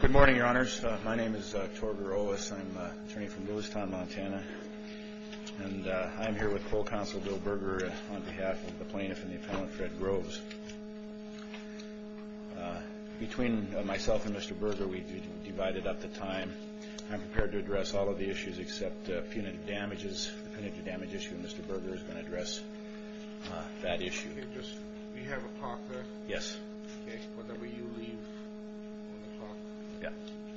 Good morning, Your Honors. My name is Torger Owens. I'm an attorney from Lewistown, Montana. And I'm here with Coal Counsel Bill Berger on behalf of the plaintiff and the appellant Fred Groves. Between myself and Mr. Berger, we divided up the time. I'm prepared to address all of the issues except punitive damages. The punitive damage issue, Mr. Berger is going to address that issue. We have a clock there. Yes. Whenever you leave on the clock.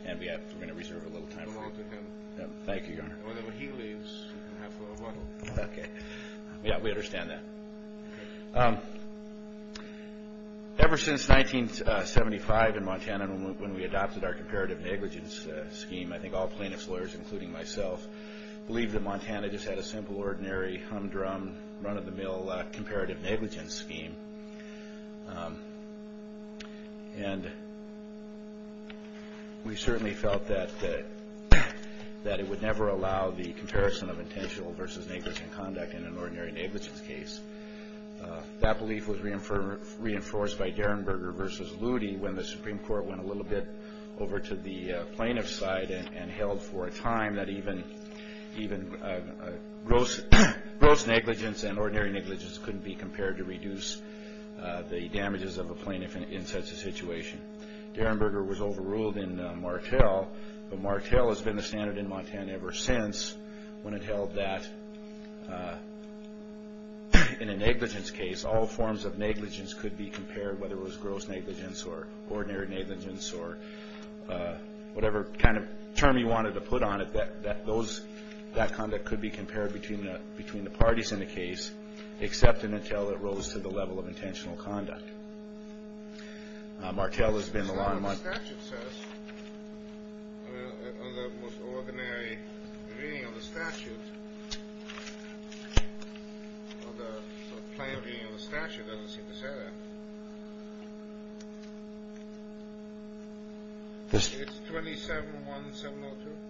And we're going to reserve a little time for you. Thank you, Your Honor. Whenever he leaves, you can have a little. Okay. Yeah, we understand that. Ever since 1975 in Montana when we adopted our comparative negligence scheme, I think all plaintiff's lawyers, including myself, believed that Montana just had a simple, ordinary, hum-drum, run-of-the-mill comparative negligence scheme. And we certainly felt that it would never allow the comparison of intentional versus negligent conduct in an ordinary negligence case. That belief was reinforced by Derenberger v. Loody when the Supreme Court went a little bit over to the plaintiff's side and held for a time that even gross negligence and ordinary negligence couldn't be compared to reduce the damages of a plaintiff in such a situation. Derenberger was overruled in Martel, but Martel has been the standard in Montana ever since when it held that in a negligence case, all forms of negligence could be compared, whether it was gross negligence or ordinary negligence or whatever kind of term you wanted to put on it, that conduct could be compared between the parties in the case, except and until it rose to the level of intentional conduct. Martel has been the law in Montana.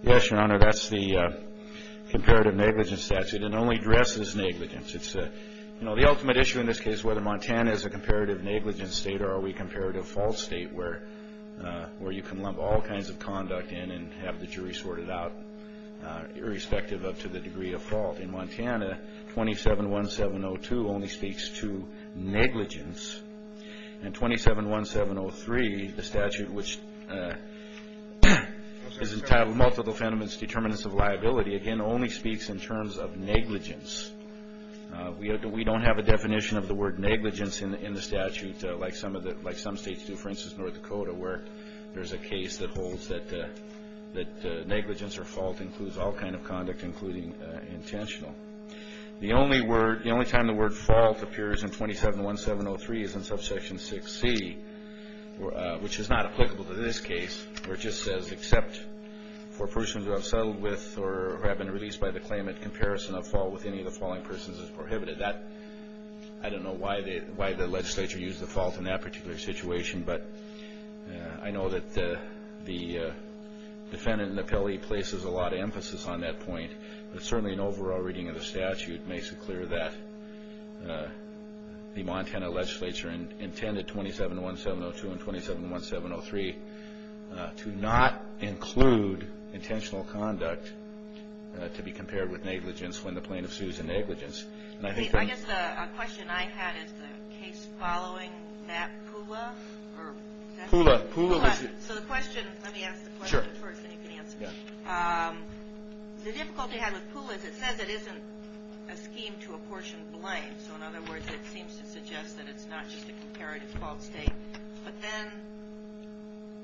Yes, Your Honor, that's the comparative negligence statute. It only addresses negligence. It's the ultimate issue in this case whether Montana is a comparative negligence state or are we a comparative fault state where you can lump all kinds of conduct in and have the jury sort it out, irrespective of to the degree of fault. In Montana, 27.1702 only speaks to negligence, and 27.1703, the statute, which is entitled Multiple Fenomens Determinants of Liability, again, only speaks in terms of negligence. We don't have a definition of the word negligence in the statute like some states do. For instance, North Dakota, where there's a case that holds that negligence or fault includes all kind of conduct, including intentional. The only time the word fault appears in 27.1703 is in subsection 6C, which is not applicable to this case, where it just says except for persons who have settled with or have been released by the claimant, comparison of fault with any of the falling persons is prohibited. I don't know why the legislature used the fault in that particular situation, but I know that the defendant in the appellee places a lot of emphasis on that point. But certainly an overall reading of the statute makes it clear that the Montana legislature intended 27.1702 and 27.1703 to not include intentional conduct to be compared with negligence when the plaintiff sues in negligence. I guess the question I had is the case following that PULA? PULA. PULA. So the question, let me ask the question first and you can answer it. The difficulty I had with PULA is it says it isn't a scheme to apportion blame. So in other words, it seems to suggest that it's not just a comparative fault state. But then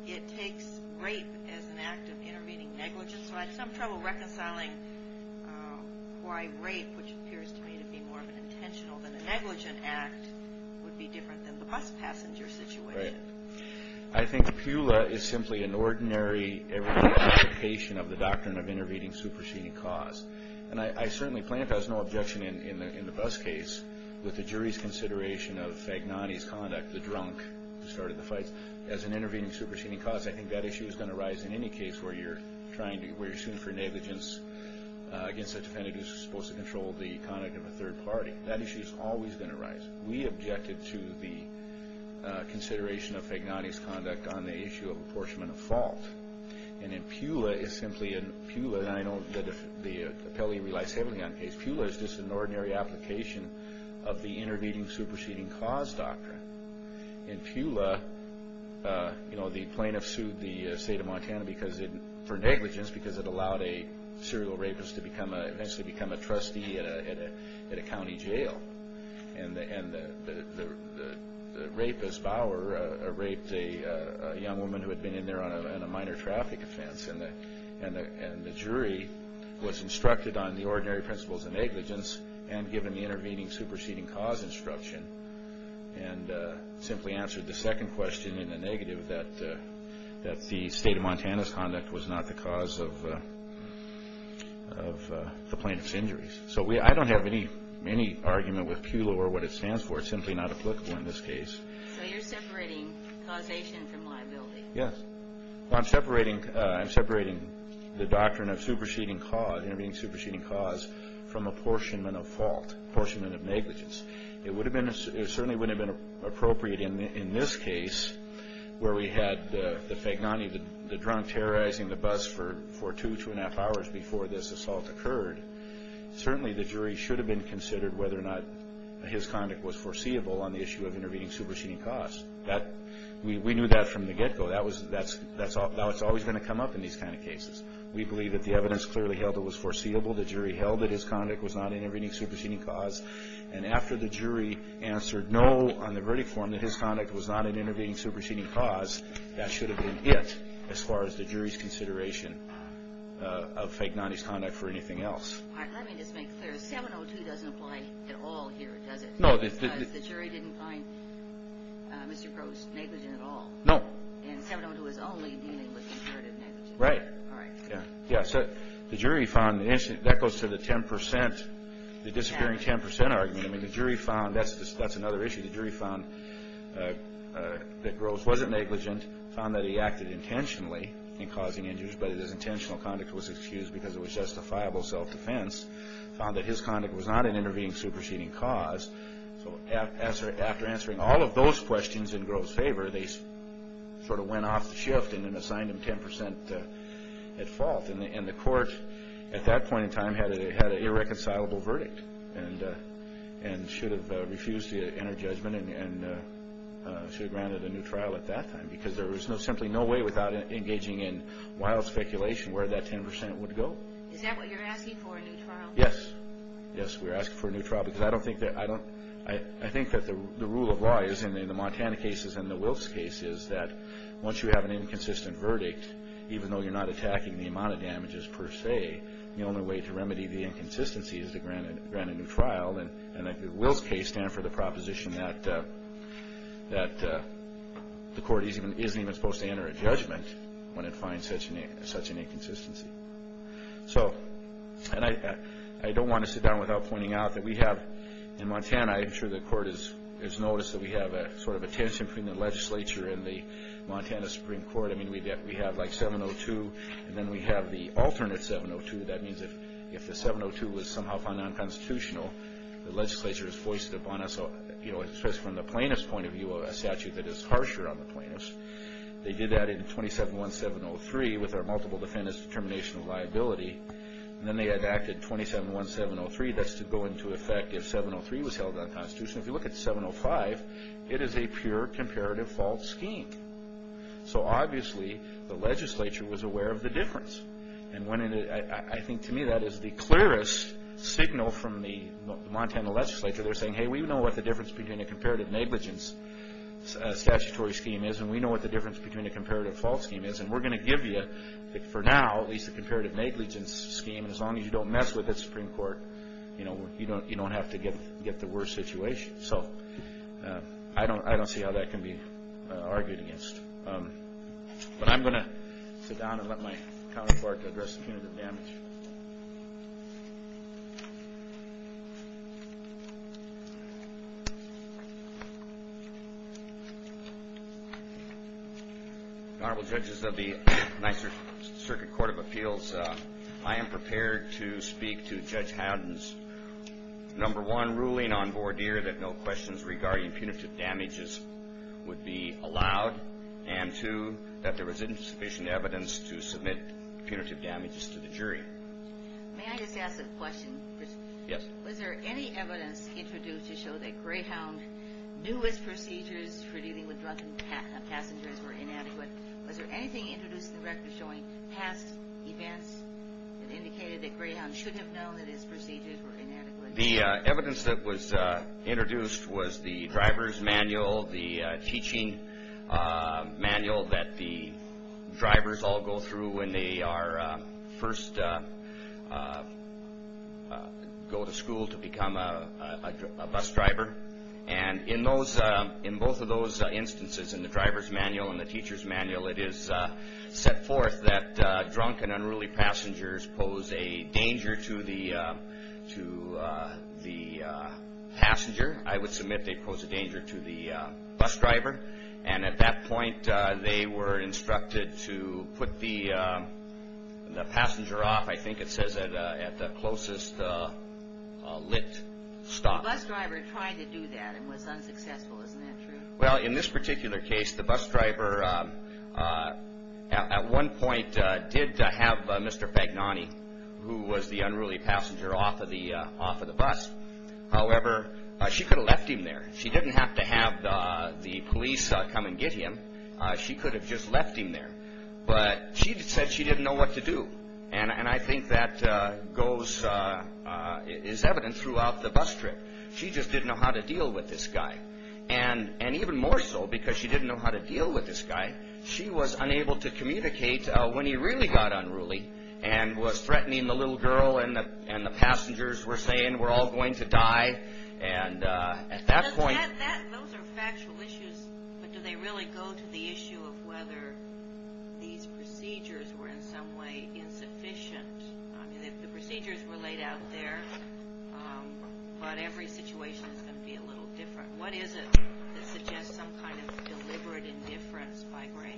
it takes rape as an act of intervening negligence. So I had some trouble reconciling why rape, which appears to me to be more of an intentional than a negligent act, would be different than the bus passenger situation. Right. I think PULA is simply an ordinary application of the doctrine of intervening superseding cause. And I certainly plaintiff has no objection in the bus case with the jury's consideration of Fagnani's conduct, the drunk who started the fight, as an intervening superseding cause. I think that issue is going to rise in any case where you're trying to, where you're suing for negligence against a defendant who's supposed to control the conduct of a third party. That issue is always going to rise. We objected to the consideration of Fagnani's conduct on the issue of apportionment of fault. And in PULA, it's simply in PULA, and I know that the appellee relies heavily on PULA, because PULA is just an ordinary application of the intervening superseding cause doctrine. In PULA, you know, the plaintiff sued the state of Montana for negligence because it allowed a serial rapist to eventually become a trustee at a county jail. And the rapist, Bauer, raped a young woman who had been in there on a minor traffic offense. And the jury was instructed on the ordinary principles of negligence and given the intervening superseding cause instruction and simply answered the second question in the negative that the state of Montana's conduct was not the cause of the plaintiff's injuries. So I don't have any argument with PULA or what it stands for. It's simply not applicable in this case. So you're separating causation from liability? Yes. Well, I'm separating the doctrine of superseding cause, intervening superseding cause, from apportionment of fault, apportionment of negligence. It certainly wouldn't have been appropriate in this case where we had the fagnani, the drunk terrorizing the bus for two, two and a half hours before this assault occurred. Certainly, the jury should have been considered whether or not his conduct was foreseeable on the issue of intervening superseding cause. We knew that from the get-go. Now it's always going to come up in these kind of cases. We believe that the evidence clearly held it was foreseeable. The jury held that his conduct was not intervening superseding cause. And after the jury answered no on the verdict form that his conduct was not an intervening superseding cause, that should have been it as far as the jury's consideration of fagnani's conduct for anything else. Let me just make clear. 702 doesn't apply at all here, does it? No. Because the jury didn't find Mr. Groves negligent at all. No. In 702, it was only dealing with imperative negligence. Right. All right. Yeah. So the jury found that goes to the 10 percent, the disappearing 10 percent argument. I mean, the jury found that's another issue. The jury found that Groves wasn't negligent, found that he acted intentionally in causing injuries, but his intentional conduct was excused because it was justifiable self-defense, found that his conduct was not an intervening superseding cause. So after answering all of those questions in Groves' favor, they sort of went off the shift and assigned him 10 percent at fault. And the court at that point in time had an irreconcilable verdict and should have refused the inner judgment and should have granted a new trial at that time because there was simply no way without engaging in wild speculation where that 10 percent would go. Is that what you're asking for, a new trial? Yes. Yes, we're asking for a new trial because I think that the rule of law is in the Montana cases and the Wills case is that once you have an inconsistent verdict, even though you're not attacking the amount of damages per se, the only way to remedy the inconsistency is to grant a new trial. And the Wills case stands for the proposition that the court isn't even supposed to enter a judgment when it finds such an inconsistency. And I don't want to sit down without pointing out that we have in Montana, I'm sure the court has noticed that we have a sort of a tension between the legislature and the Montana Supreme Court. I mean, we have like 702 and then we have the alternate 702. That means that if the 702 was somehow found non-constitutional, the legislature is foisted upon us, especially from the plaintiff's point of view, a statute that is harsher on the plaintiffs. They did that in 27.1703 with our multiple defendants determination of liability, and then they enacted 27.1703. That's to go into effect if 703 was held unconstitutional. If you look at 705, it is a pure comparative fault scheme. So obviously the legislature was aware of the difference. And I think to me that is the clearest signal from the Montana legislature. They're saying, hey, we know what the difference between a comparative negligence statutory scheme is, and we know what the difference between a comparative fault scheme is, and we're going to give you, for now, at least a comparative negligence scheme, and as long as you don't mess with it, Supreme Court, you don't have to get the worst situation. So I don't see how that can be argued against. But I'm going to sit down and let my counterpart address the punitive damage. Honorable Judges of the Nyser Circuit Court of Appeals, I am prepared to speak to Judge Haddon's number one ruling on and two, that there was insufficient evidence to submit punitive damages to the jury. May I just ask a question? Yes. Was there any evidence introduced to show that Greyhound knew his procedures for dealing with drunken passengers were inadequate? Was there anything introduced in the record showing past events that indicated that Greyhound should have known that his procedures were inadequate? The evidence that was introduced was the driver's manual, the teaching manual that the drivers all go through when they first go to school to become a bus driver, and in both of those instances, in the driver's manual and the teacher's manual, it is set forth that drunk and unruly passengers pose a danger to the passenger. I would submit they pose a danger to the bus driver. And at that point, they were instructed to put the passenger off, I think it says, at the closest lit stop. The bus driver tried to do that and was unsuccessful. Isn't that true? Well, in this particular case, the bus driver at one point did have Mr. Fagnani, who was the unruly passenger, off of the bus. However, she could have left him there. She didn't have to have the police come and get him. She could have just left him there. But she said she didn't know what to do, and I think that is evident throughout the bus trip. She just didn't know how to deal with this guy. And even more so, because she didn't know how to deal with this guy, she was unable to communicate when he really got unruly and was threatening the little girl, and the passengers were saying, we're all going to die. And at that point... Those are factual issues, but do they really go to the issue of whether these procedures were in some way insufficient? The procedures were laid out there, but every situation is going to be a little different. What is it that suggests some kind of deliberate indifference by Greyhound?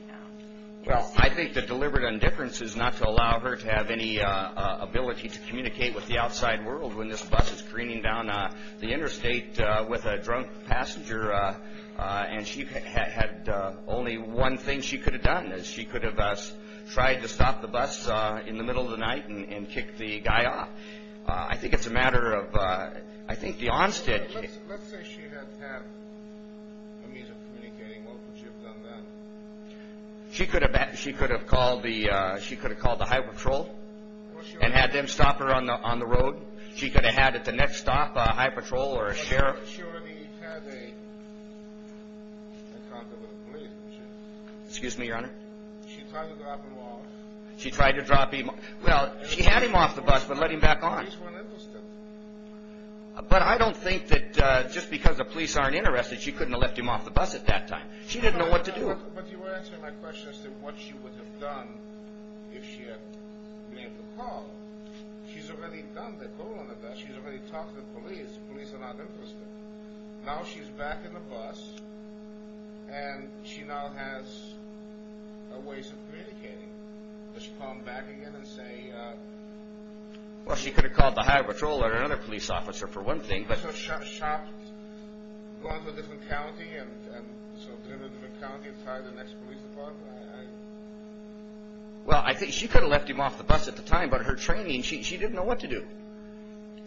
Well, I think the deliberate indifference is not to allow her to have any ability to communicate with the outside world when this bus is careening down the interstate with a drunk passenger, and she had only one thing she could have done. She could have tried to stop the bus in the middle of the night and kick the guy off. I think it's a matter of... Let's say she didn't have a means of communicating. What would you have done then? She could have called the highway patrol and had them stop her on the road. She could have had at the next stop a highway patrol or a sheriff. She already had a contact with the police, didn't she? Excuse me, Your Honor? She tried to drop him off. She tried to drop him off. Well, she had him off the bus, but let him back on. The police weren't interested. But I don't think that just because the police aren't interested, she couldn't have left him off the bus at that time. She didn't know what to do. But you were asking my question as to what she would have done if she had made the call. She's already done the call on the bus. She's already talked to the police. The police are not interested. Now she's back in the bus, and she now has a way of communicating. Does she call him back again and say... Well, she could have called the highway patrol or another police officer for one thing, but... Or she could have shopped, gone to a different county and... So, driven to a different county and tried the next police department. Well, I think she could have left him off the bus at the time, but in her training, she didn't know what to do.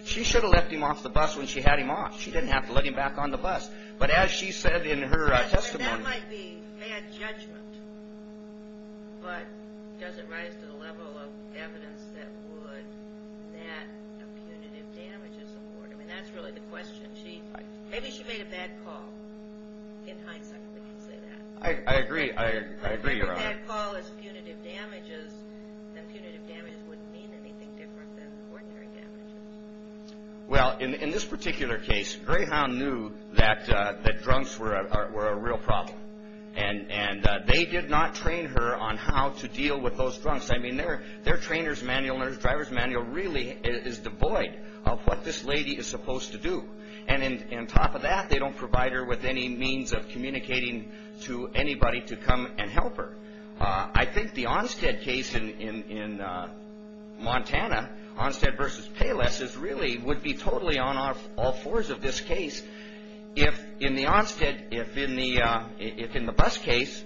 She should have left him off the bus when she had him off. She didn't have to let him back on the bus. But as she said in her testimony... That might be bad judgment. But does it rise to the level of evidence that would net a punitive damages award? I mean, that's really the question. Maybe she made a bad call. I agree. I agree, Your Honor. If she made a bad call as punitive damages, then punitive damages wouldn't mean anything different than ordinary damages. Well, in this particular case, Greyhound knew that drunks were a real problem. And they did not train her on how to deal with those drunks. I mean, their trainer's manual and their driver's manual really is devoid of what this lady is supposed to do. And on top of that, they don't provide her with any means of communicating to anybody to come and help her. I think the Onstead case in Montana, Onstead v. Payless, really would be totally on all fours of this case. If in the Onstead, if in the bus case,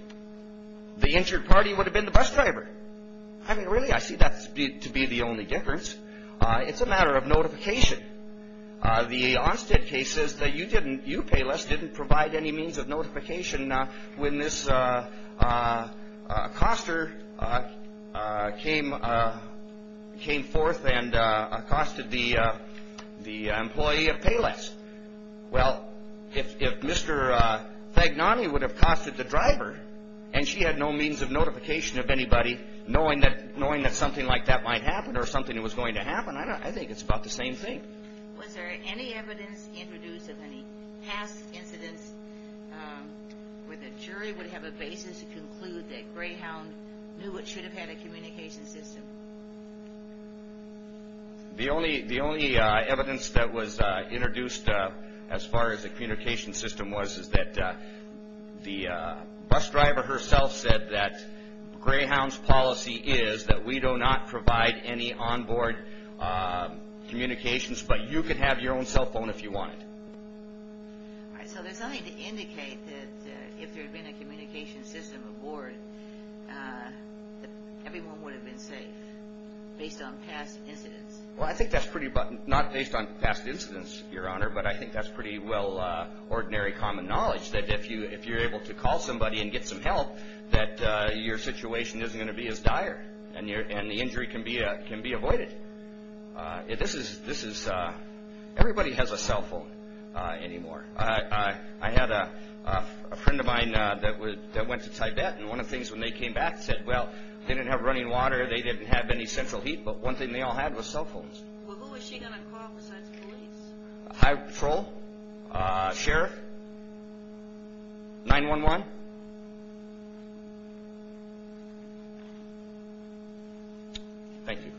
the injured party would have been the bus driver. I mean, really, I see that to be the only difference. It's a matter of notification. The Onstead case says that you didn't, you, Payless, didn't provide any means of notification when this accoster came forth and accosted the employee of Payless. Well, if Mr. Fagnani would have accosted the driver, and she had no means of notification of anybody, knowing that something like that might happen or something that was going to happen, I think it's about the same thing. Was there any evidence introduced of any past incidents where the jury would have a basis to conclude that Greyhound knew what should have had a communication system? The only evidence that was introduced as far as the communication system was is that the bus driver herself said that Greyhound's policy is that we do not provide any onboard communications, but you could have your own cell phone if you wanted. So there's nothing to indicate that if there had been a communication system aboard, that everyone would have been safe, based on past incidents? Well, I think that's pretty, not based on past incidents, Your Honor, but I think that's pretty well ordinary common knowledge, that if you're able to call somebody and get some help, that your situation isn't going to be as dire, and the injury can be avoided. Everybody has a cell phone anymore. I had a friend of mine that went to Tibet, and one of the things when they came back, they said, well, they didn't have running water, they didn't have any central heat, but one thing they all had was cell phones. Well, who was she going to call besides the police? High Patrol, Sheriff, 911. Thank you.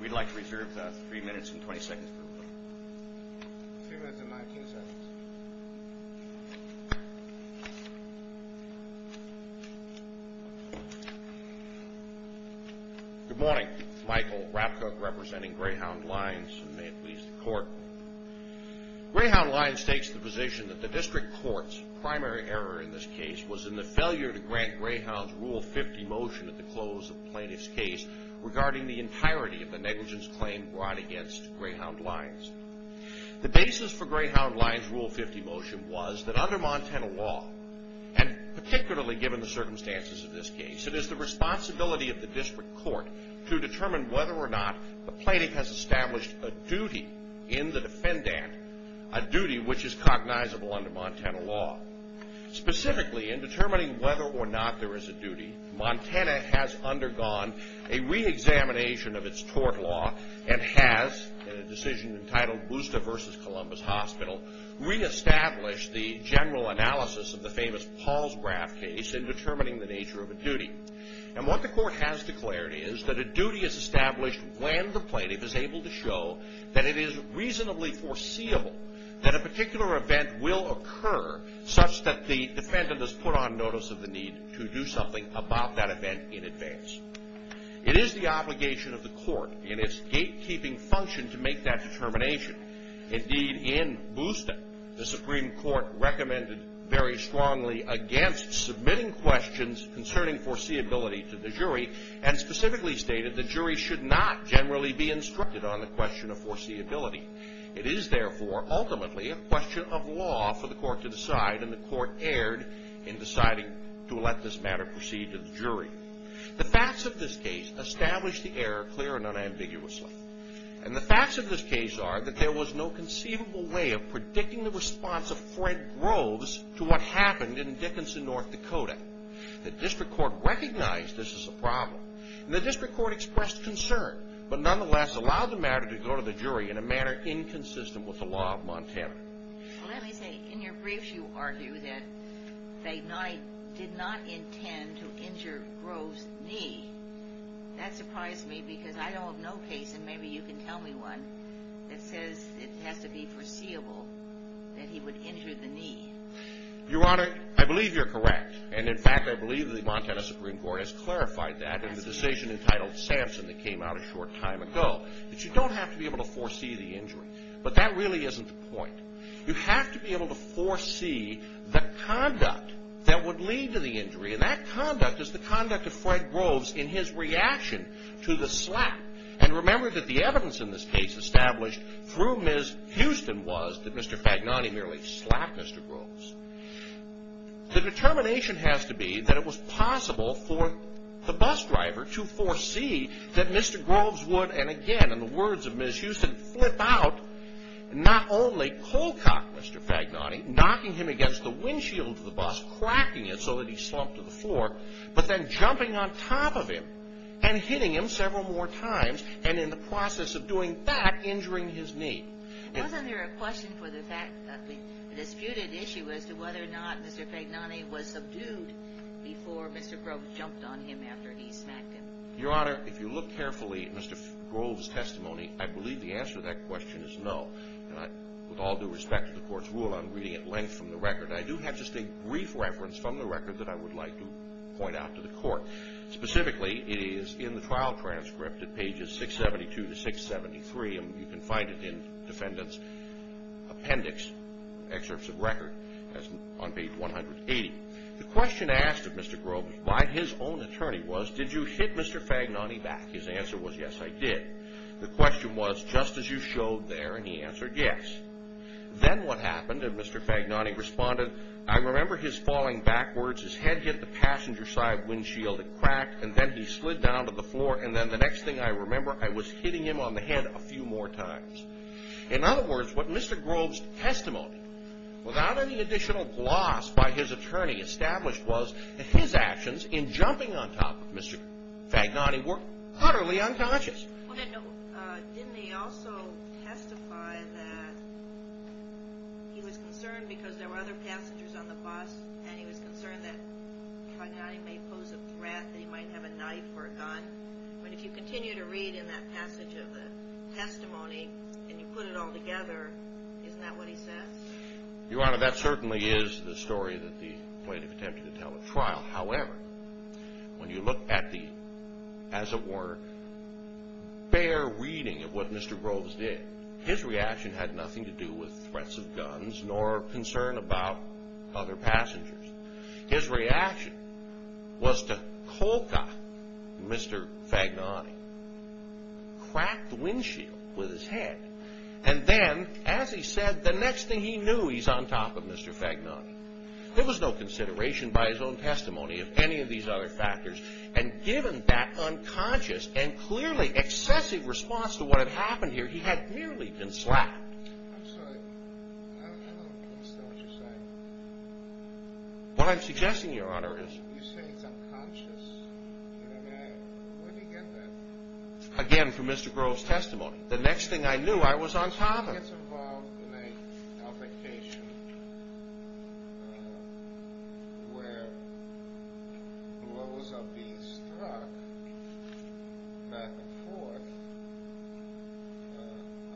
We'd like to reserve three minutes and 20 seconds for questions. Three minutes and 19 seconds. Good morning. Michael Rapkoch, representing Greyhound Lines, and may it please the Court. Greyhound Lines takes the position that the district court's primary error in this case was in the failure to grant Greyhound's Rule 50 motion at the close of the plaintiff's case, regarding the entirety of the negligence claim brought against Greyhound Lines. The basis for Greyhound Lines' Rule 50 motion was that under Montana law, and particularly given the circumstances of this case, it is the responsibility of the district court to determine whether or not the plaintiff has established a duty in the defendant, a duty which is cognizable under Montana law. Specifically, in determining whether or not there is a duty, Montana has undergone a reexamination of its tort law and has, in a decision entitled Busta v. Columbus Hospital, reestablished the general analysis of the famous Paul's Wrath case in determining the nature of a duty. And what the court has declared is that a duty is established when the plaintiff is able to show that it is reasonably foreseeable that a particular event will occur such that the defendant has put on notice of the need to do something about that event in advance. It is the obligation of the court in its gatekeeping function to make that determination. Indeed, in Busta, the Supreme Court recommended very strongly against submitting questions concerning foreseeability to the jury and specifically stated the jury should not generally be instructed on the question of foreseeability. It is, therefore, ultimately a question of law for the court to decide, and the court erred in deciding to let this matter proceed to the jury. The facts of this case establish the error clearly and unambiguously. And the facts of this case are that there was no conceivable way of predicting the response of Fred Groves to what happened in Dickinson, North Dakota. The district court recognized this as a problem, and the district court expressed concern, but nonetheless allowed the matter to go to the jury in a manner inconsistent with the law of Montana. Well, let me say, in your briefs you argue that they did not intend to injure Groves' knee. That surprised me because I don't have no case, and maybe you can tell me one, that says it has to be foreseeable that he would injure the knee. Your Honor, I believe you're correct. And, in fact, I believe the Montana Supreme Court has clarified that in the decision entitled Samson that came out a short time ago. You don't have to be able to foresee the injury, but that really isn't the point. You have to be able to foresee the conduct that would lead to the injury, and that conduct is the conduct of Fred Groves in his reaction to the slap. And remember that the evidence in this case established through Ms. Houston was that Mr. Fagnani merely slapped Mr. Groves. The determination has to be that it was possible for the bus driver to foresee that Mr. Groves would, and again, in the words of Ms. Houston, flip out, not only cold cock Mr. Fagnani, knocking him against the windshield of the bus, cracking it so that he slumped to the floor, but then jumping on top of him and hitting him several more times, and in the process of doing that, injuring his knee. Wasn't there a question for the fact that the disputed issue as to whether or not Mr. Fagnani was subdued before Mr. Groves jumped on him after he smacked him? Your Honor, if you look carefully at Mr. Groves' testimony, I believe the answer to that question is no. With all due respect to the Court's rule on reading at length from the record, I do have just a brief reference from the record that I would like to point out to the Court. Specifically, it is in the trial transcript at pages 672 to 673, and you can find it in defendant's appendix, excerpts of record, on page 180. The question asked of Mr. Groves by his own attorney was, did you hit Mr. Fagnani back? His answer was, yes, I did. The question was, just as you showed there, and he answered, yes. Then what happened, and Mr. Fagnani responded, I remember his falling backwards. His head hit the passenger side windshield. It cracked, and then he slid down to the floor, and then the next thing I remember, I was hitting him on the head a few more times. In other words, what Mr. Groves' testimony, without any additional gloss by his attorney established, was that his actions in jumping on top of Mr. Fagnani were utterly unconscious. Didn't he also testify that he was concerned because there were other passengers on the bus, and he was concerned that Fagnani may pose a threat, that he might have a knife or a gun? But if you continue to read in that passage of the testimony, and you put it all together, isn't that what he says? Your Honor, that certainly is the story that the plaintiff attempted to tell at trial. However, when you look at the, as it were, bare reading of what Mr. Groves did, his reaction had nothing to do with threats of guns nor concern about other passengers. His reaction was to coca Mr. Fagnani, crack the windshield with his head, and then, as he said, the next thing he knew, he's on top of Mr. Fagnani. There was no consideration by his own testimony of any of these other factors, and given that unconscious and clearly excessive response to what had happened here, he had merely been slapped. I'm sorry. I don't understand what you're saying. What I'm suggesting, Your Honor, is... You say it's unconscious, and I mean, where do you get that? Again, from Mr. Groves' testimony. The next thing I knew, I was on top of him. When one gets involved in an altercation where those are being struck back and forth,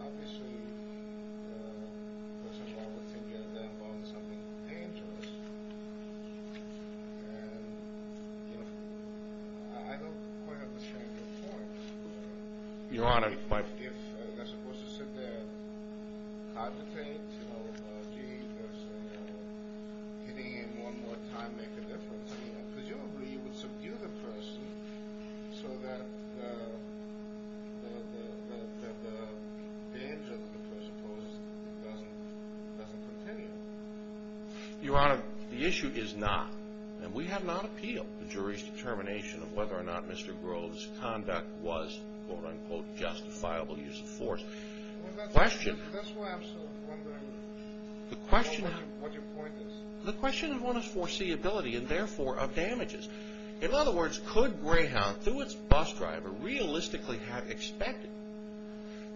obviously, first of all, we have to get them on something dangerous, and I don't quite understand your point. Your Honor, my... If they're supposed to sit there, cogitate, you know, gee, hitting him one more time makes a difference, presumably you would subdue the person so that the danger that the person poses doesn't continue. Your Honor, the issue is not, and we have not appealed the jury's determination of whether or not Mr. Groves' conduct was, quote-unquote, justifiable use of force. That's why I'm still wondering what your point is. The question is one of foreseeability and therefore of damages. In other words, could Greyhound, through its bus driver, realistically have expected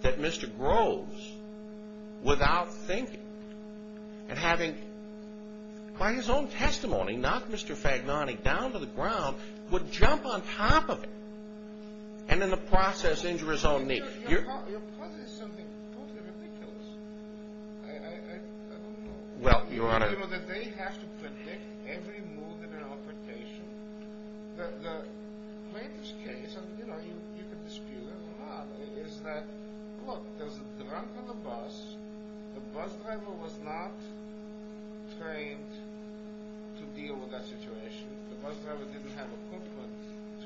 that Mr. Groves, without thinking and having, by his own testimony, knocked Mr. Fagnani down to the ground, would jump on top of him and in the process injure his own knee? Your point is something totally ridiculous. I don't know. Well, Your Honor... You know, they have to predict every move in an altercation. The greatest case, and you know, you can dispute it or not, is that, look, there's a drunk on the bus. The bus driver was not trained to deal with that situation. The bus driver didn't have equipment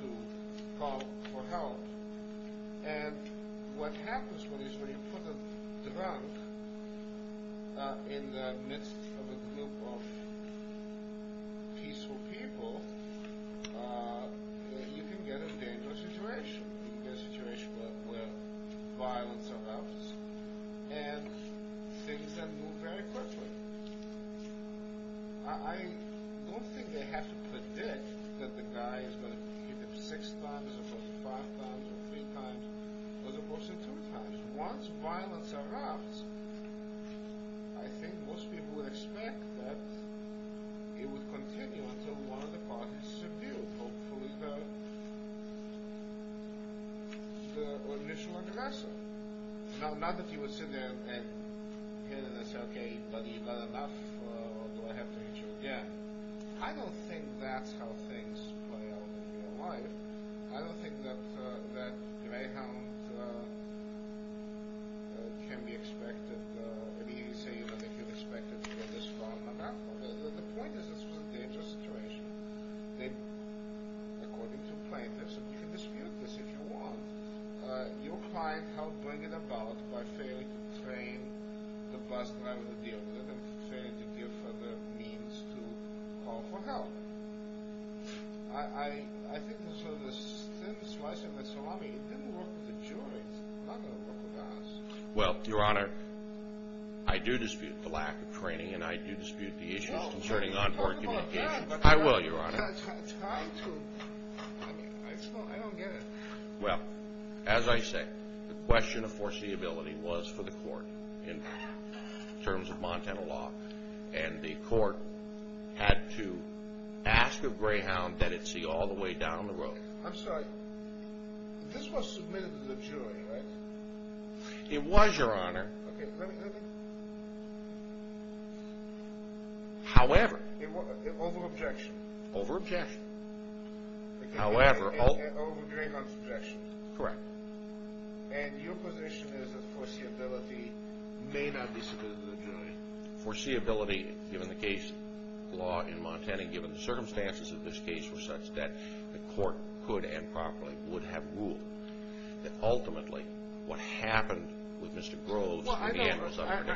to call for help. And what happens is when you put a drunk in the midst of a group of peaceful people, you can get a dangerous situation. You can get a situation where violence erupts and things can move very quickly. I don't think they have to predict that the guy is going to hit him six times as opposed to five times or three times as opposed to two times. Once violence erupts, I think most people would expect that it would continue until one of the parties subdued, hopefully the initial aggressor. Now, not that you would sit there and say, okay, buddy, you've had enough, or do I have to injure you again? I don't think that's how things play out in real life. I don't think that Greyhound can be expected... I mean, say, you don't think you're expected to get this drunk on that bus. The point is this was a dangerous situation. According to plaintiffs, and you can dispute this if you want, your client helped bring it about by failing to train the bus driver to deal with it and failing to give her the means to call for help. I think this is a thin slice of the salami. It didn't work with the jury. It's not going to work with us. Well, Your Honor, I do dispute the lack of training, and I do dispute the issues concerning onboard communication. I will, Your Honor. Try to. I don't get it. Well, as I say, the question of foreseeability was for the court in terms of Montana law, and the court had to ask of Greyhound that it see all the way down the road. I'm sorry. This was submitted to the jury, right? It was, Your Honor. Okay, let me... However... Over objection. Over objection. However... Over Greyhound's objection. Correct. And your position is that foreseeability may not be submitted to the jury. Foreseeability, given the case law in Montana, given the circumstances of this case were such that the court could and properly would have ruled that ultimately what happened with Mr. Groves...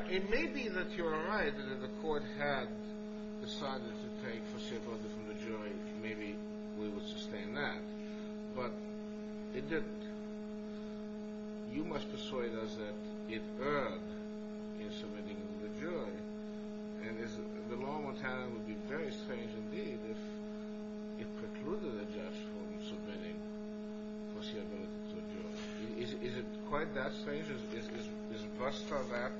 It may be that you're right that the court had decided to take foreseeability from the jury. Maybe we would sustain that, but it didn't. You must persuade us that it erred in submitting it to the jury, and the law in Montana would be very strange indeed if it precluded a judge from submitting foreseeability to a jury. Is it quite that strange? Is BUSTA that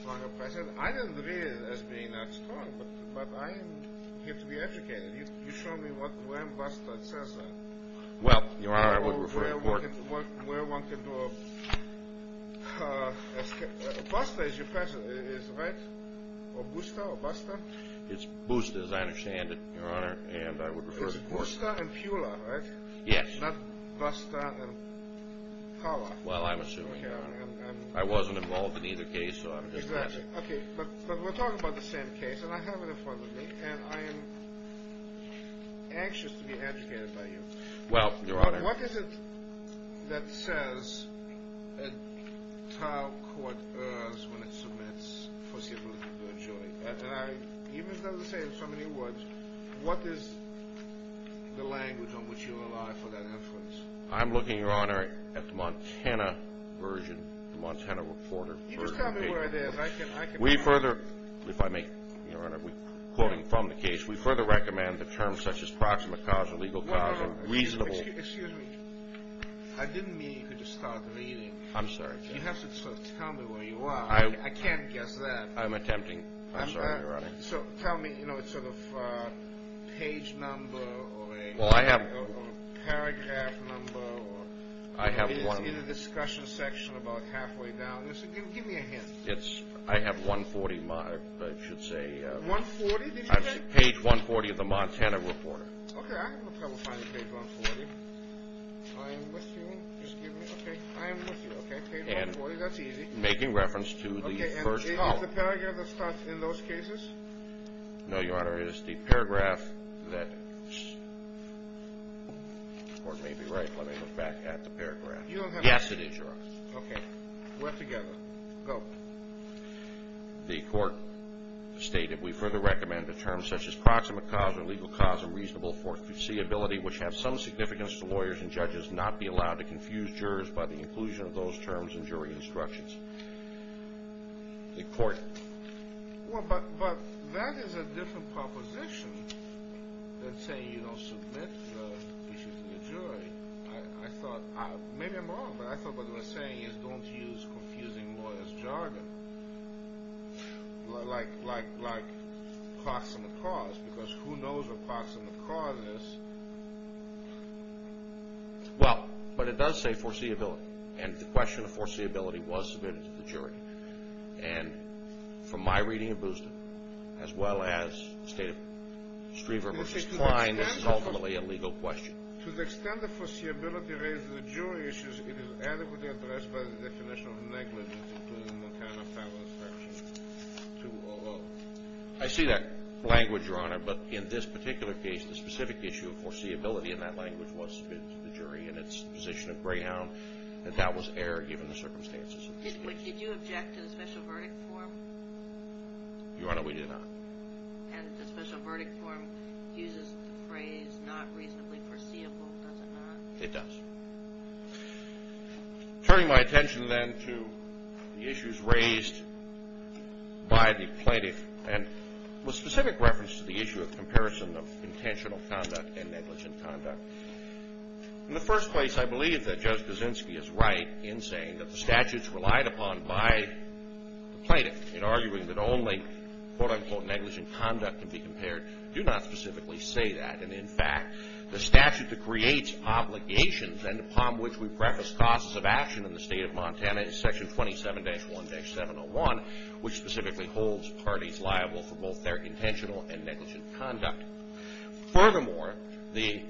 strong a precedent? I didn't read it as being that strong, but I am here to be educated. You show me where in BUSTA it says that. Well, Your Honor, I would refer it to the court. Where one can do a... BUSTA is your precedent, is it right? Or BUSTA or BUSTA? It's BUSTA as I understand it, Your Honor, and I would refer it to the court. It's BUSTA and PULA, right? Yes. Not BUSTA and POWER. Well, I'm assuming. I wasn't involved in either case, so I'm just guessing. Exactly. Okay, but we're talking about the same case, and I have it in front of me, and I am anxious to be educated by you. Well, Your Honor... What is it that says a trial court errs when it submits foreseeability to a jury? Even though you say it in so many words, what is the language on which you rely for that inference? I'm looking, Your Honor, at the Montana version, the Montana reporter version of the case. You just tell me where it is. We further, if I may, Your Honor, quoting from the case, we further recommend the terms such as proximate cause, illegal cause, and reasonable... Excuse me. I didn't mean you could just start reading. I'm sorry. You have to sort of tell me where you are. I can't guess that. I'm attempting. I'm sorry, Your Honor. So tell me, you know, sort of page number or a paragraph number. I have one. It's in the discussion section about halfway down. Give me a hint. I have 140, I should say. 140, did you say? Page 140 of the Montana reporter. Okay, I have a problem finding page 140. I am with you. Excuse me. Okay, I am with you. Okay, page 140, that's easy. Making reference to the first column. Is the paragraph that starts in those cases? No, Your Honor, it is the paragraph that the Court may be right. Let me look back at the paragraph. Yes, it is, Your Honor. Okay. We're together. Go. The Court stated, we further recommend the terms such as proximate cause, illegal cause, and reasonable foreseeability, which have some significance to lawyers and judges, not be allowed to confuse jurors by the inclusion of those terms in jury instructions. The Court. Well, but that is a different proposition than saying you don't submit the issue to the jury. I thought, maybe I'm wrong, but I thought what they were saying is don't use confusing lawyers' jargon, like proximate cause, because who knows what proximate cause is? Well, but it does say foreseeability, and the question of foreseeability was submitted to the jury. And from my reading of Boosden, as well as the state of Striever v. Klein, this is ultimately a legal question. To the extent the foreseeability raises a jury issue, it is adequately addressed by the definition of negligence, including Montana Federal Instruction 200. I see that language, Your Honor, but in this particular case, the specific issue of foreseeability, and that language was submitted to the jury, and it's the position of Greyhound, that that was error given the circumstances of the case. Did you object to the special verdict form? Your Honor, we did not. And the special verdict form uses the phrase, not reasonably foreseeable, does it not? It does. Turning my attention then to the issues raised by the plaintiff, and with specific reference to the issue of comparison of intentional conduct and negligent conduct. In the first place, I believe that Judge Kaczynski is right in saying that the statutes relied upon by the plaintiff in arguing that only, quote-unquote, negligent conduct can be compared do not specifically say that. And in fact, the statute that creates obligations and upon which we preface causes of action in the state of Montana is Section 27-1-701, which specifically holds parties liable for both their intentional and negligent conduct. Furthermore, the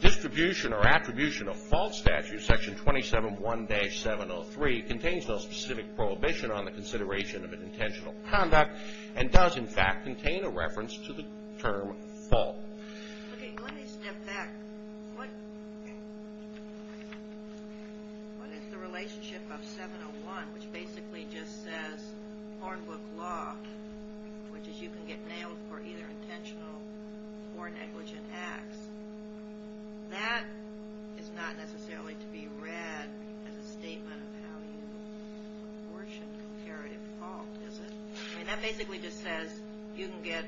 distribution or attribution of false statutes, Section 27-1-703, contains no specific prohibition on the consideration of an intentional conduct and does, in fact, contain a reference to the term false. Okay, let me step back. What is the relationship of 701, which basically just says porn book law, which is you can get nailed for either intentional or negligent acts. That is not necessarily to be read as a statement of how you abortion comparative fault, is it? I mean, that basically just says you can get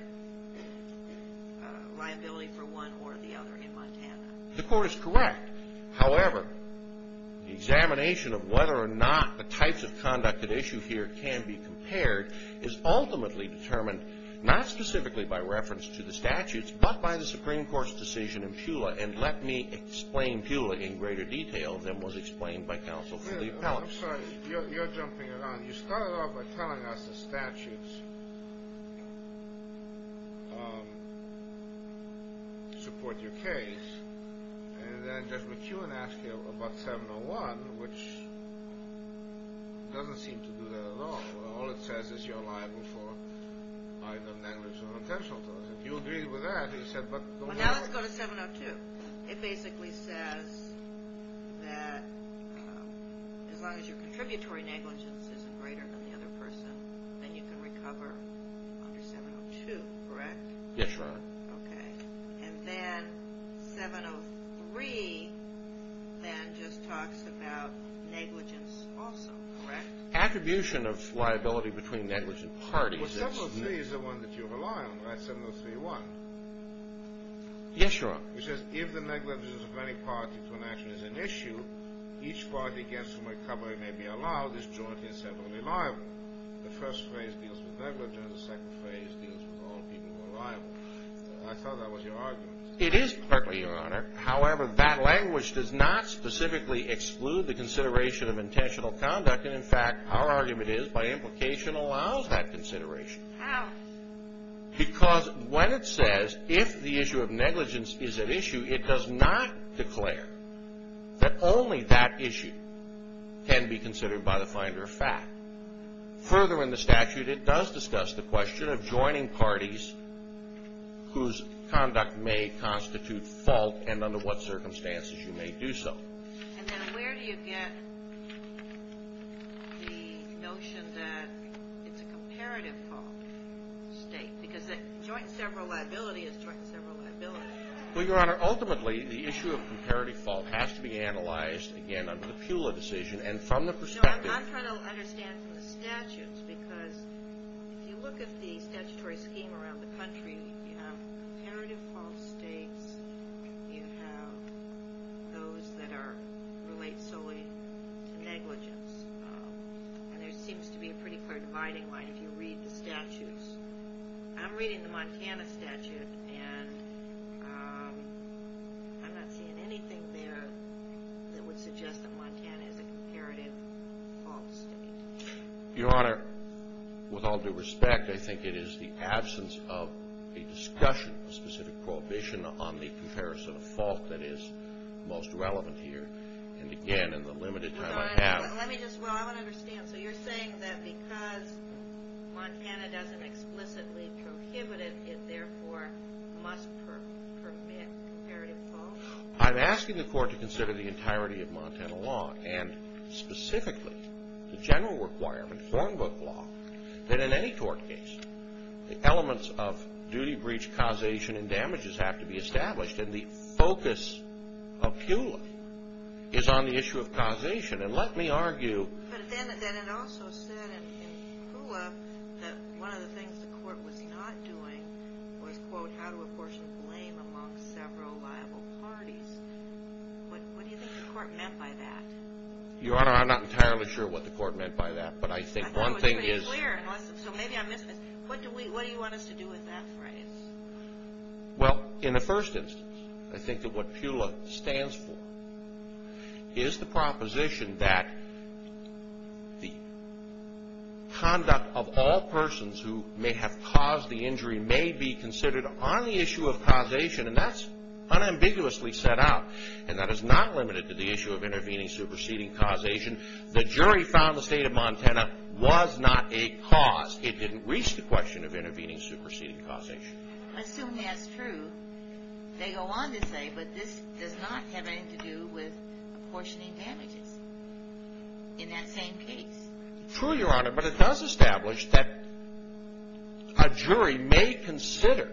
liability for one or the other in Montana. The court is correct. However, the examination of whether or not the types of conduct at issue here can be compared is ultimately determined not specifically by reference to the statutes, but by the Supreme Court's decision in Pula, and let me explain Pula in greater detail than was explained by counsel for the appellants. I'm sorry. You're jumping around. You started off by telling us the statutes support your case, and then just recue and ask you about 701, which doesn't seem to do that at all. All it says is you're liable for either negligence or intentional. If you agree with that, he said, but... Well, now let's go to 702. It basically says that as long as your contributory negligence isn't greater than the other person, then you can recover under 702, correct? Yes, Your Honor. Okay. And then 703 then just talks about negligence also, correct? Attribution of liability between negligent parties is... Well, 703 is the one that you rely on, right? 703-1. Yes, Your Honor. It says if the negligence of any party to an action is an issue, each party against whom recovery may be allowed is jointly and separately liable. The first phrase deals with negligence. The second phrase deals with all people who are liable. I thought that was your argument. It is partly, Your Honor. However, that language does not specifically exclude the consideration of intentional conduct and, in fact, our argument is by implication allows that consideration. How? Because when it says if the issue of negligence is at issue, it does not declare that only that issue can be considered by the finder of fact. Further in the statute, it does discuss the question of joining parties whose conduct may constitute fault and under what circumstances you may do so. And then where do you get the notion that it's a comparative fault state? Because joint and separate liability is joint and separate liability. Well, Your Honor, ultimately, the issue of comparative fault has to be analyzed, again, under the Pula decision and from the perspective... I'm trying to understand from the statutes because if you look at the statutory scheme around the country, you have comparative fault states, you have those that relate solely to negligence, and there seems to be a pretty clear dividing line if you read the statutes. I'm reading the Montana statute, and I'm not seeing anything there that would suggest that Montana is a comparative fault state. Your Honor, with all due respect, I think it is the absence of a discussion, a specific prohibition on the comparison of fault that is most relevant here. And again, in the limited time I have... Let me just... Well, I don't understand. So you're saying that because Montana doesn't explicitly prohibit it, it therefore must permit comparative fault? I'm asking the Court to consider the entirety of Montana law, and specifically the general requirement, Hornbook law, that in any court case the elements of duty, breach, causation, and damages have to be established, and the focus of Pula is on the issue of causation. And let me argue... But then it also said in Pula that one of the things the Court was not doing was, quote, how to apportion blame among several liable parties. What do you think the Court meant by that? Your Honor, I'm not entirely sure what the Court meant by that, but I think one thing is... I thought it was pretty clear, so maybe I missed this. What do you want us to do with that phrase? Well, in the first instance, I think that what Pula stands for is the proposition that the conduct of all persons who may have caused the injury may be considered on the issue of causation, and that's unambiguously set out, and that is not limited to the issue of intervening, superseding, causation. The jury found the State of Montana was not a cause. It didn't reach the question of intervening, superseding, causation. I assume that's true. They go on to say, but this does not have anything to do with apportioning damages in that same case. True, Your Honor, but it does establish that a jury may consider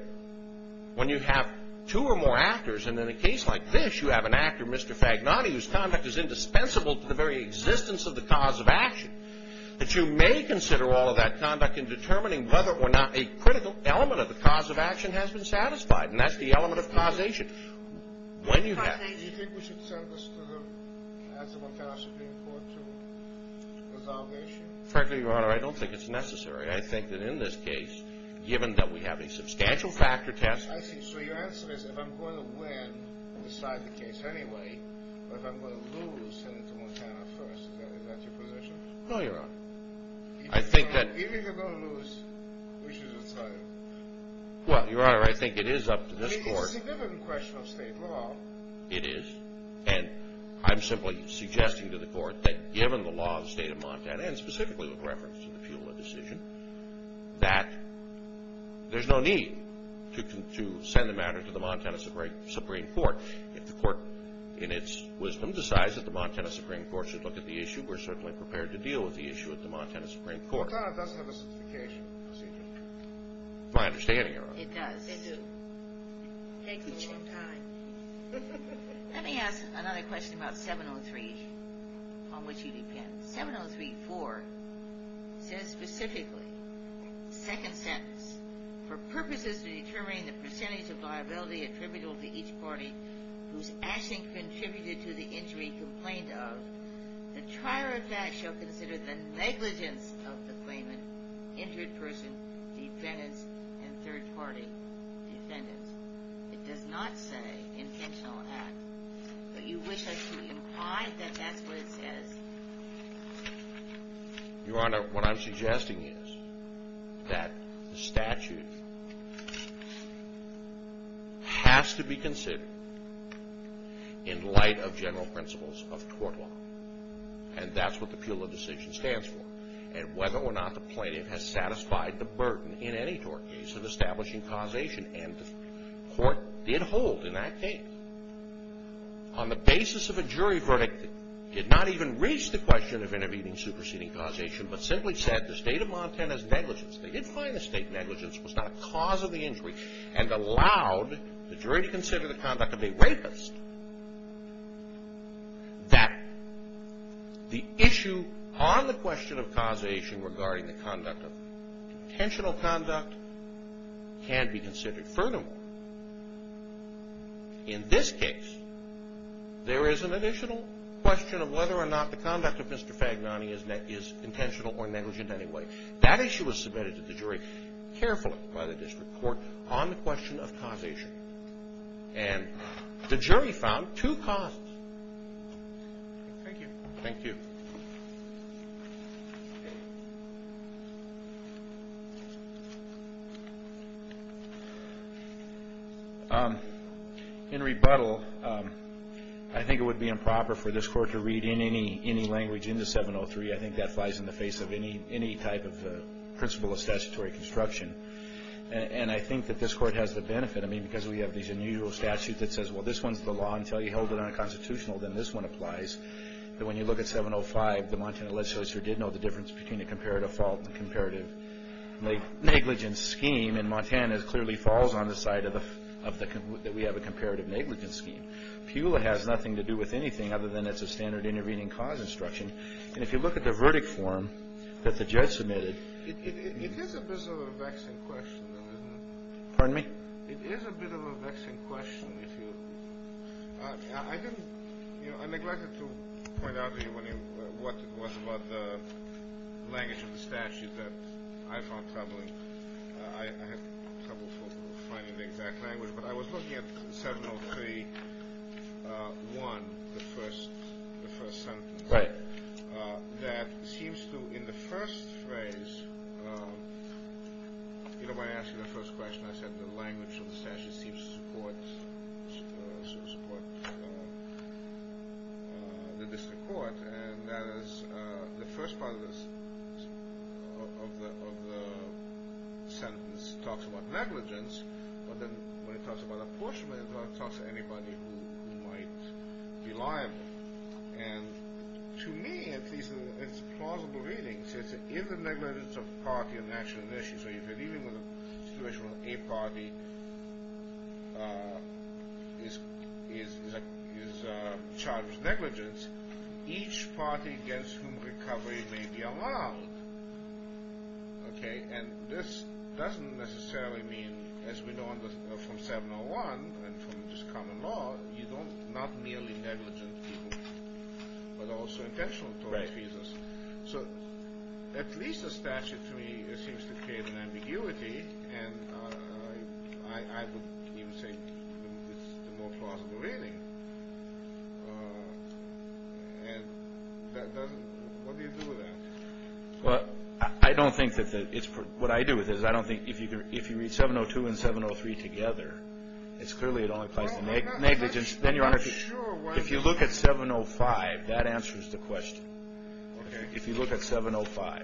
when you have two or more actors, and in a case like this, you have an actor, Mr. Fagnani, whose conduct is indispensable to the very existence of the cause of action, that you may consider all of that conduct in determining whether or not a critical element of the cause of action has been satisfied, and that's the element of causation. Do you think we should send this to the Montana Supreme Court to resolve the issue? Frankly, Your Honor, I don't think it's necessary. I think that in this case, given that we have a substantial factor test... I see. So your answer is, if I'm going to win, I'll decide the case anyway, but if I'm going to lose, send it to Montana first. Is that your position? No, Your Honor. If you're going to lose, we should decide. Well, Your Honor, I think it is up to this Court... It's a significant question of state law. It is, and I'm simply suggesting to the Court that given the law of the state of Montana, and specifically with reference to the Pula decision, that there's no need to send the matter to the Montana Supreme Court. If the Court, in its wisdom, decides that the Montana Supreme Court should look at the issue, we're certainly prepared to deal with the issue at the Montana Supreme Court. Montana doesn't have a certification procedure. That's my understanding, Your Honor. It does. It does. It takes a long time. Let me ask another question about 703 on which you depend. 703-4 says specifically, second sentence, for purposes of determining the percentage of liability attributable to each party whose action contributed to the injury complained of, the trier of facts shall consider the negligence of the claimant, injured person, defendants, and third party defendants. It does not say intentional act. But you wish us to imply that that's what it says? Your Honor, what I'm suggesting is that the statute has to be considered in light of general principles of court law. And that's what the Pula decision stands for. And whether or not the plaintiff has satisfied the burden in any court case of establishing causation. And the Court did hold in that case. On the basis of a jury verdict, did not even reach the question of intervening in superseding causation, but simply said the state of Montana's negligence, they did find the state negligence was not a cause of the injury, and allowed the jury to consider the conduct of a rapist. That the issue on the question of causation regarding the conduct of intentional conduct can be considered. Furthermore, in this case, there is an additional question of whether or not the conduct of Mr. Fagnani is intentional or negligent anyway. That issue was submitted to the jury carefully by the district court on the question of causation. And the jury found two cons. Thank you. Thank you. In rebuttal, I think it would be improper for this court to read in any language into 703. I think that flies in the face of any type of principle of statutory construction. And I think that this court has the benefit. I mean, because we have these unusual statutes that says, well, this one's the law until you hold it unconstitutional. Then this one applies. But when you look at 705, the Montana legislature did know the difference between a comparative fault and a comparative negligence scheme. And Montana clearly falls on the side that we have a comparative negligence scheme. PULA has nothing to do with anything other than it's a standard intervening cause instruction. And if you look at the verdict form that the judge submitted, it is a bit of a vexing question, though, isn't it? Pardon me? It is a bit of a vexing question. I didn't, you know, I neglected to point out to you what was about the language of the statute that I found troubling. I had trouble finding the exact language. But I was looking at 703.1, the first sentence. Right. That seems to, in the first phrase, you know, when I asked you the first question, I said the language of the statute seems to support the district court, and that is the first part of the sentence talks about negligence, but then when it talks about apportionment, it talks about anybody who might be liable. And to me, at least in its plausible readings, it's in the negligence of party and national initiatives. So if you're dealing with a situation where a party is charged with negligence, each party against whom recovery may be allowed, okay, and this doesn't necessarily mean, as we know from 701 and from this common law, you don't, not merely negligent people, but also intentional tort defeasors. So at least the statute, to me, seems to create an ambiguity, and I would even say it's the more plausible reading. And that doesn't, what do you do with that? Well, I don't think that it's, what I do with it is I don't think if you read 702 and 703 together, it's clearly it only applies to negligence. Then, Your Honor, if you look at 705, that answers the question. Okay. If you look at 705.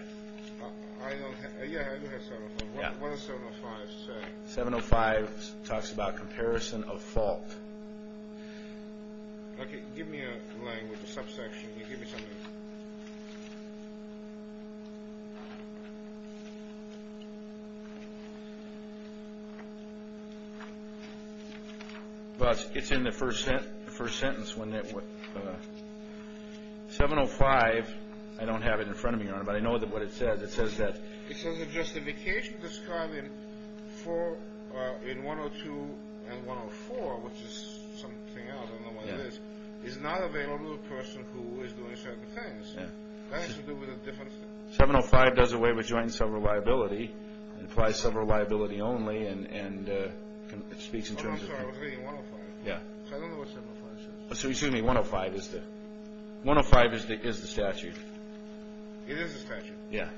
I don't have, yeah, I do have 705. Yeah. What does 705 say? 705 talks about comparison of fault. Okay. Give me a language, a subsection. Give me something. It's in the first sentence. 705, I don't have it in front of me, Your Honor, but I know what it says. It says that justification described in 102 and 104, which is something else, I don't know what it is, is not available to a person who is doing certain things. That has to do with a different thing. 705 does away with joint and several liability. It applies several liability only, and it speaks in terms of. Oh, I'm sorry, I was reading 105. Yeah. So I don't know what 705 says. Excuse me, 105 is the statute. It is the statute. Yeah.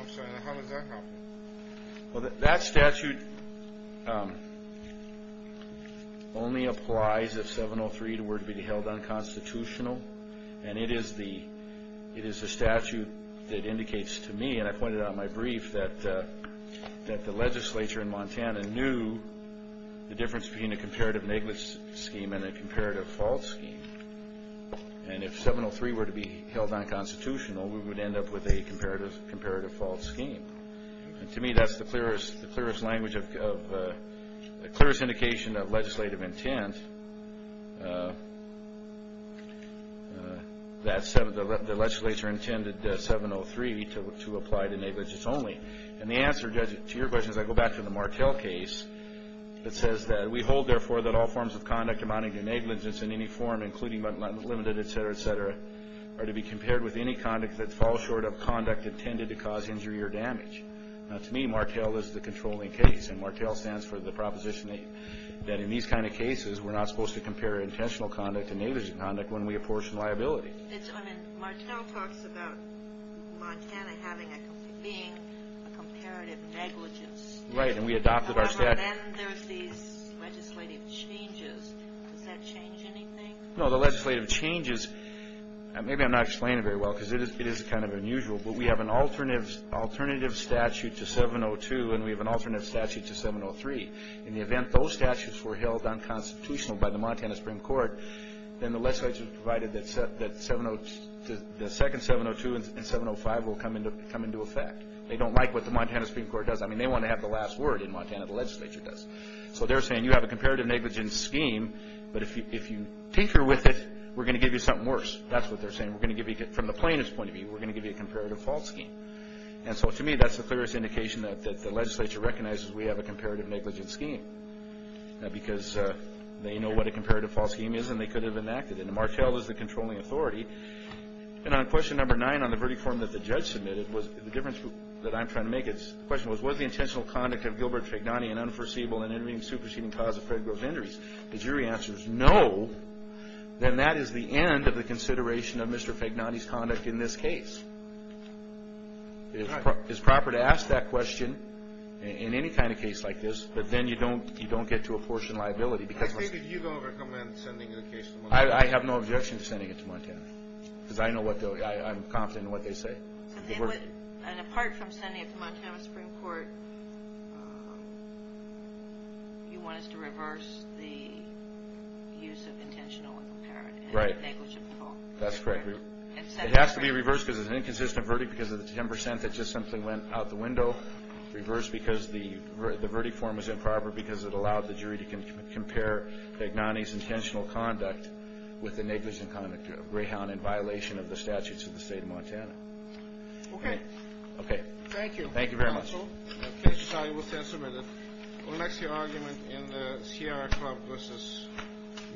I'm sorry, how does that help? Well, that statute only applies if 703 were to be held unconstitutional, and it is the statute that indicates to me, and I pointed out in my brief, that the legislature in Montana knew the difference between a comparative negligence scheme and a comparative fault scheme. And if 703 were to be held unconstitutional, we would end up with a comparative fault scheme. And to me, that's the clearest language of the clearest indication of legislative intent that the legislature intended 703 to apply to negligence only. And the answer, Judge, to your question, as I go back to the Martel case, that says that we hold, therefore, that all forms of conduct amounting to negligence in any form, including but limited, et cetera, et cetera, are to be compared with any conduct that falls short of conduct intended to cause injury or damage. Now, to me, Martel is the controlling case, and Martel stands for the proposition that in these kind of cases, we're not supposed to compare intentional conduct to negligent conduct when we apportion liability. I mean, Martel talks about Montana being a comparative negligence. Right, and we adopted our statute. Then there's these legislative changes. Does that change anything? No, the legislative changes, maybe I'm not explaining it very well because it is kind of unusual, but we have an alternative statute to 702, and we have an alternative statute to 703. In the event those statutes were held unconstitutional by the Montana Supreme Court, then the legislature provided that the second 702 and 705 will come into effect. They don't like what the Montana Supreme Court does. I mean, they want to have the last word in Montana, the legislature does. So they're saying you have a comparative negligence scheme, but if you tinker with it, we're going to give you something worse. That's what they're saying. We're going to give you, from the plaintiff's point of view, we're going to give you a comparative fault scheme. And so to me, that's the clearest indication that the legislature recognizes we have a comparative negligence scheme because they know what a comparative fault scheme is and they could have enacted it, and Martel is the controlling authority. And on question number nine on the verdict form that the judge submitted, the difference that I'm trying to make, the question was, was the intentional conduct of Gilbert Fagnani an unforeseeable and intervening superseding cause of federal injuries? The jury answers, no. Then that is the end of the consideration of Mr. Fagnani's conduct in this case. It is proper to ask that question in any kind of case like this, but then you don't get to a portion of liability. I say that you don't recommend sending the case to Montana. I have no objection to sending it to Montana because I know what they'll do. I'm confident in what they say. And apart from sending it to Montana Supreme Court, you want us to reverse the use of intentional and comparative negligence at all? That's correct. It has to be reversed because it's an inconsistent verdict because of the 10 percent that just simply went out the window. Reverse because the verdict form was improper because it allowed the jury to compare Fagnani's intentional conduct with the negligent conduct of Greyhound in violation of the statutes of the state of Montana. Okay. Okay. Thank you. Thank you very much. Counsel, the case is now able to be submitted. What is your argument in the Sierra Club v.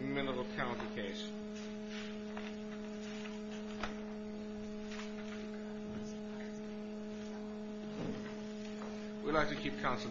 Minerva County case? We'd like to keep counsel guessing.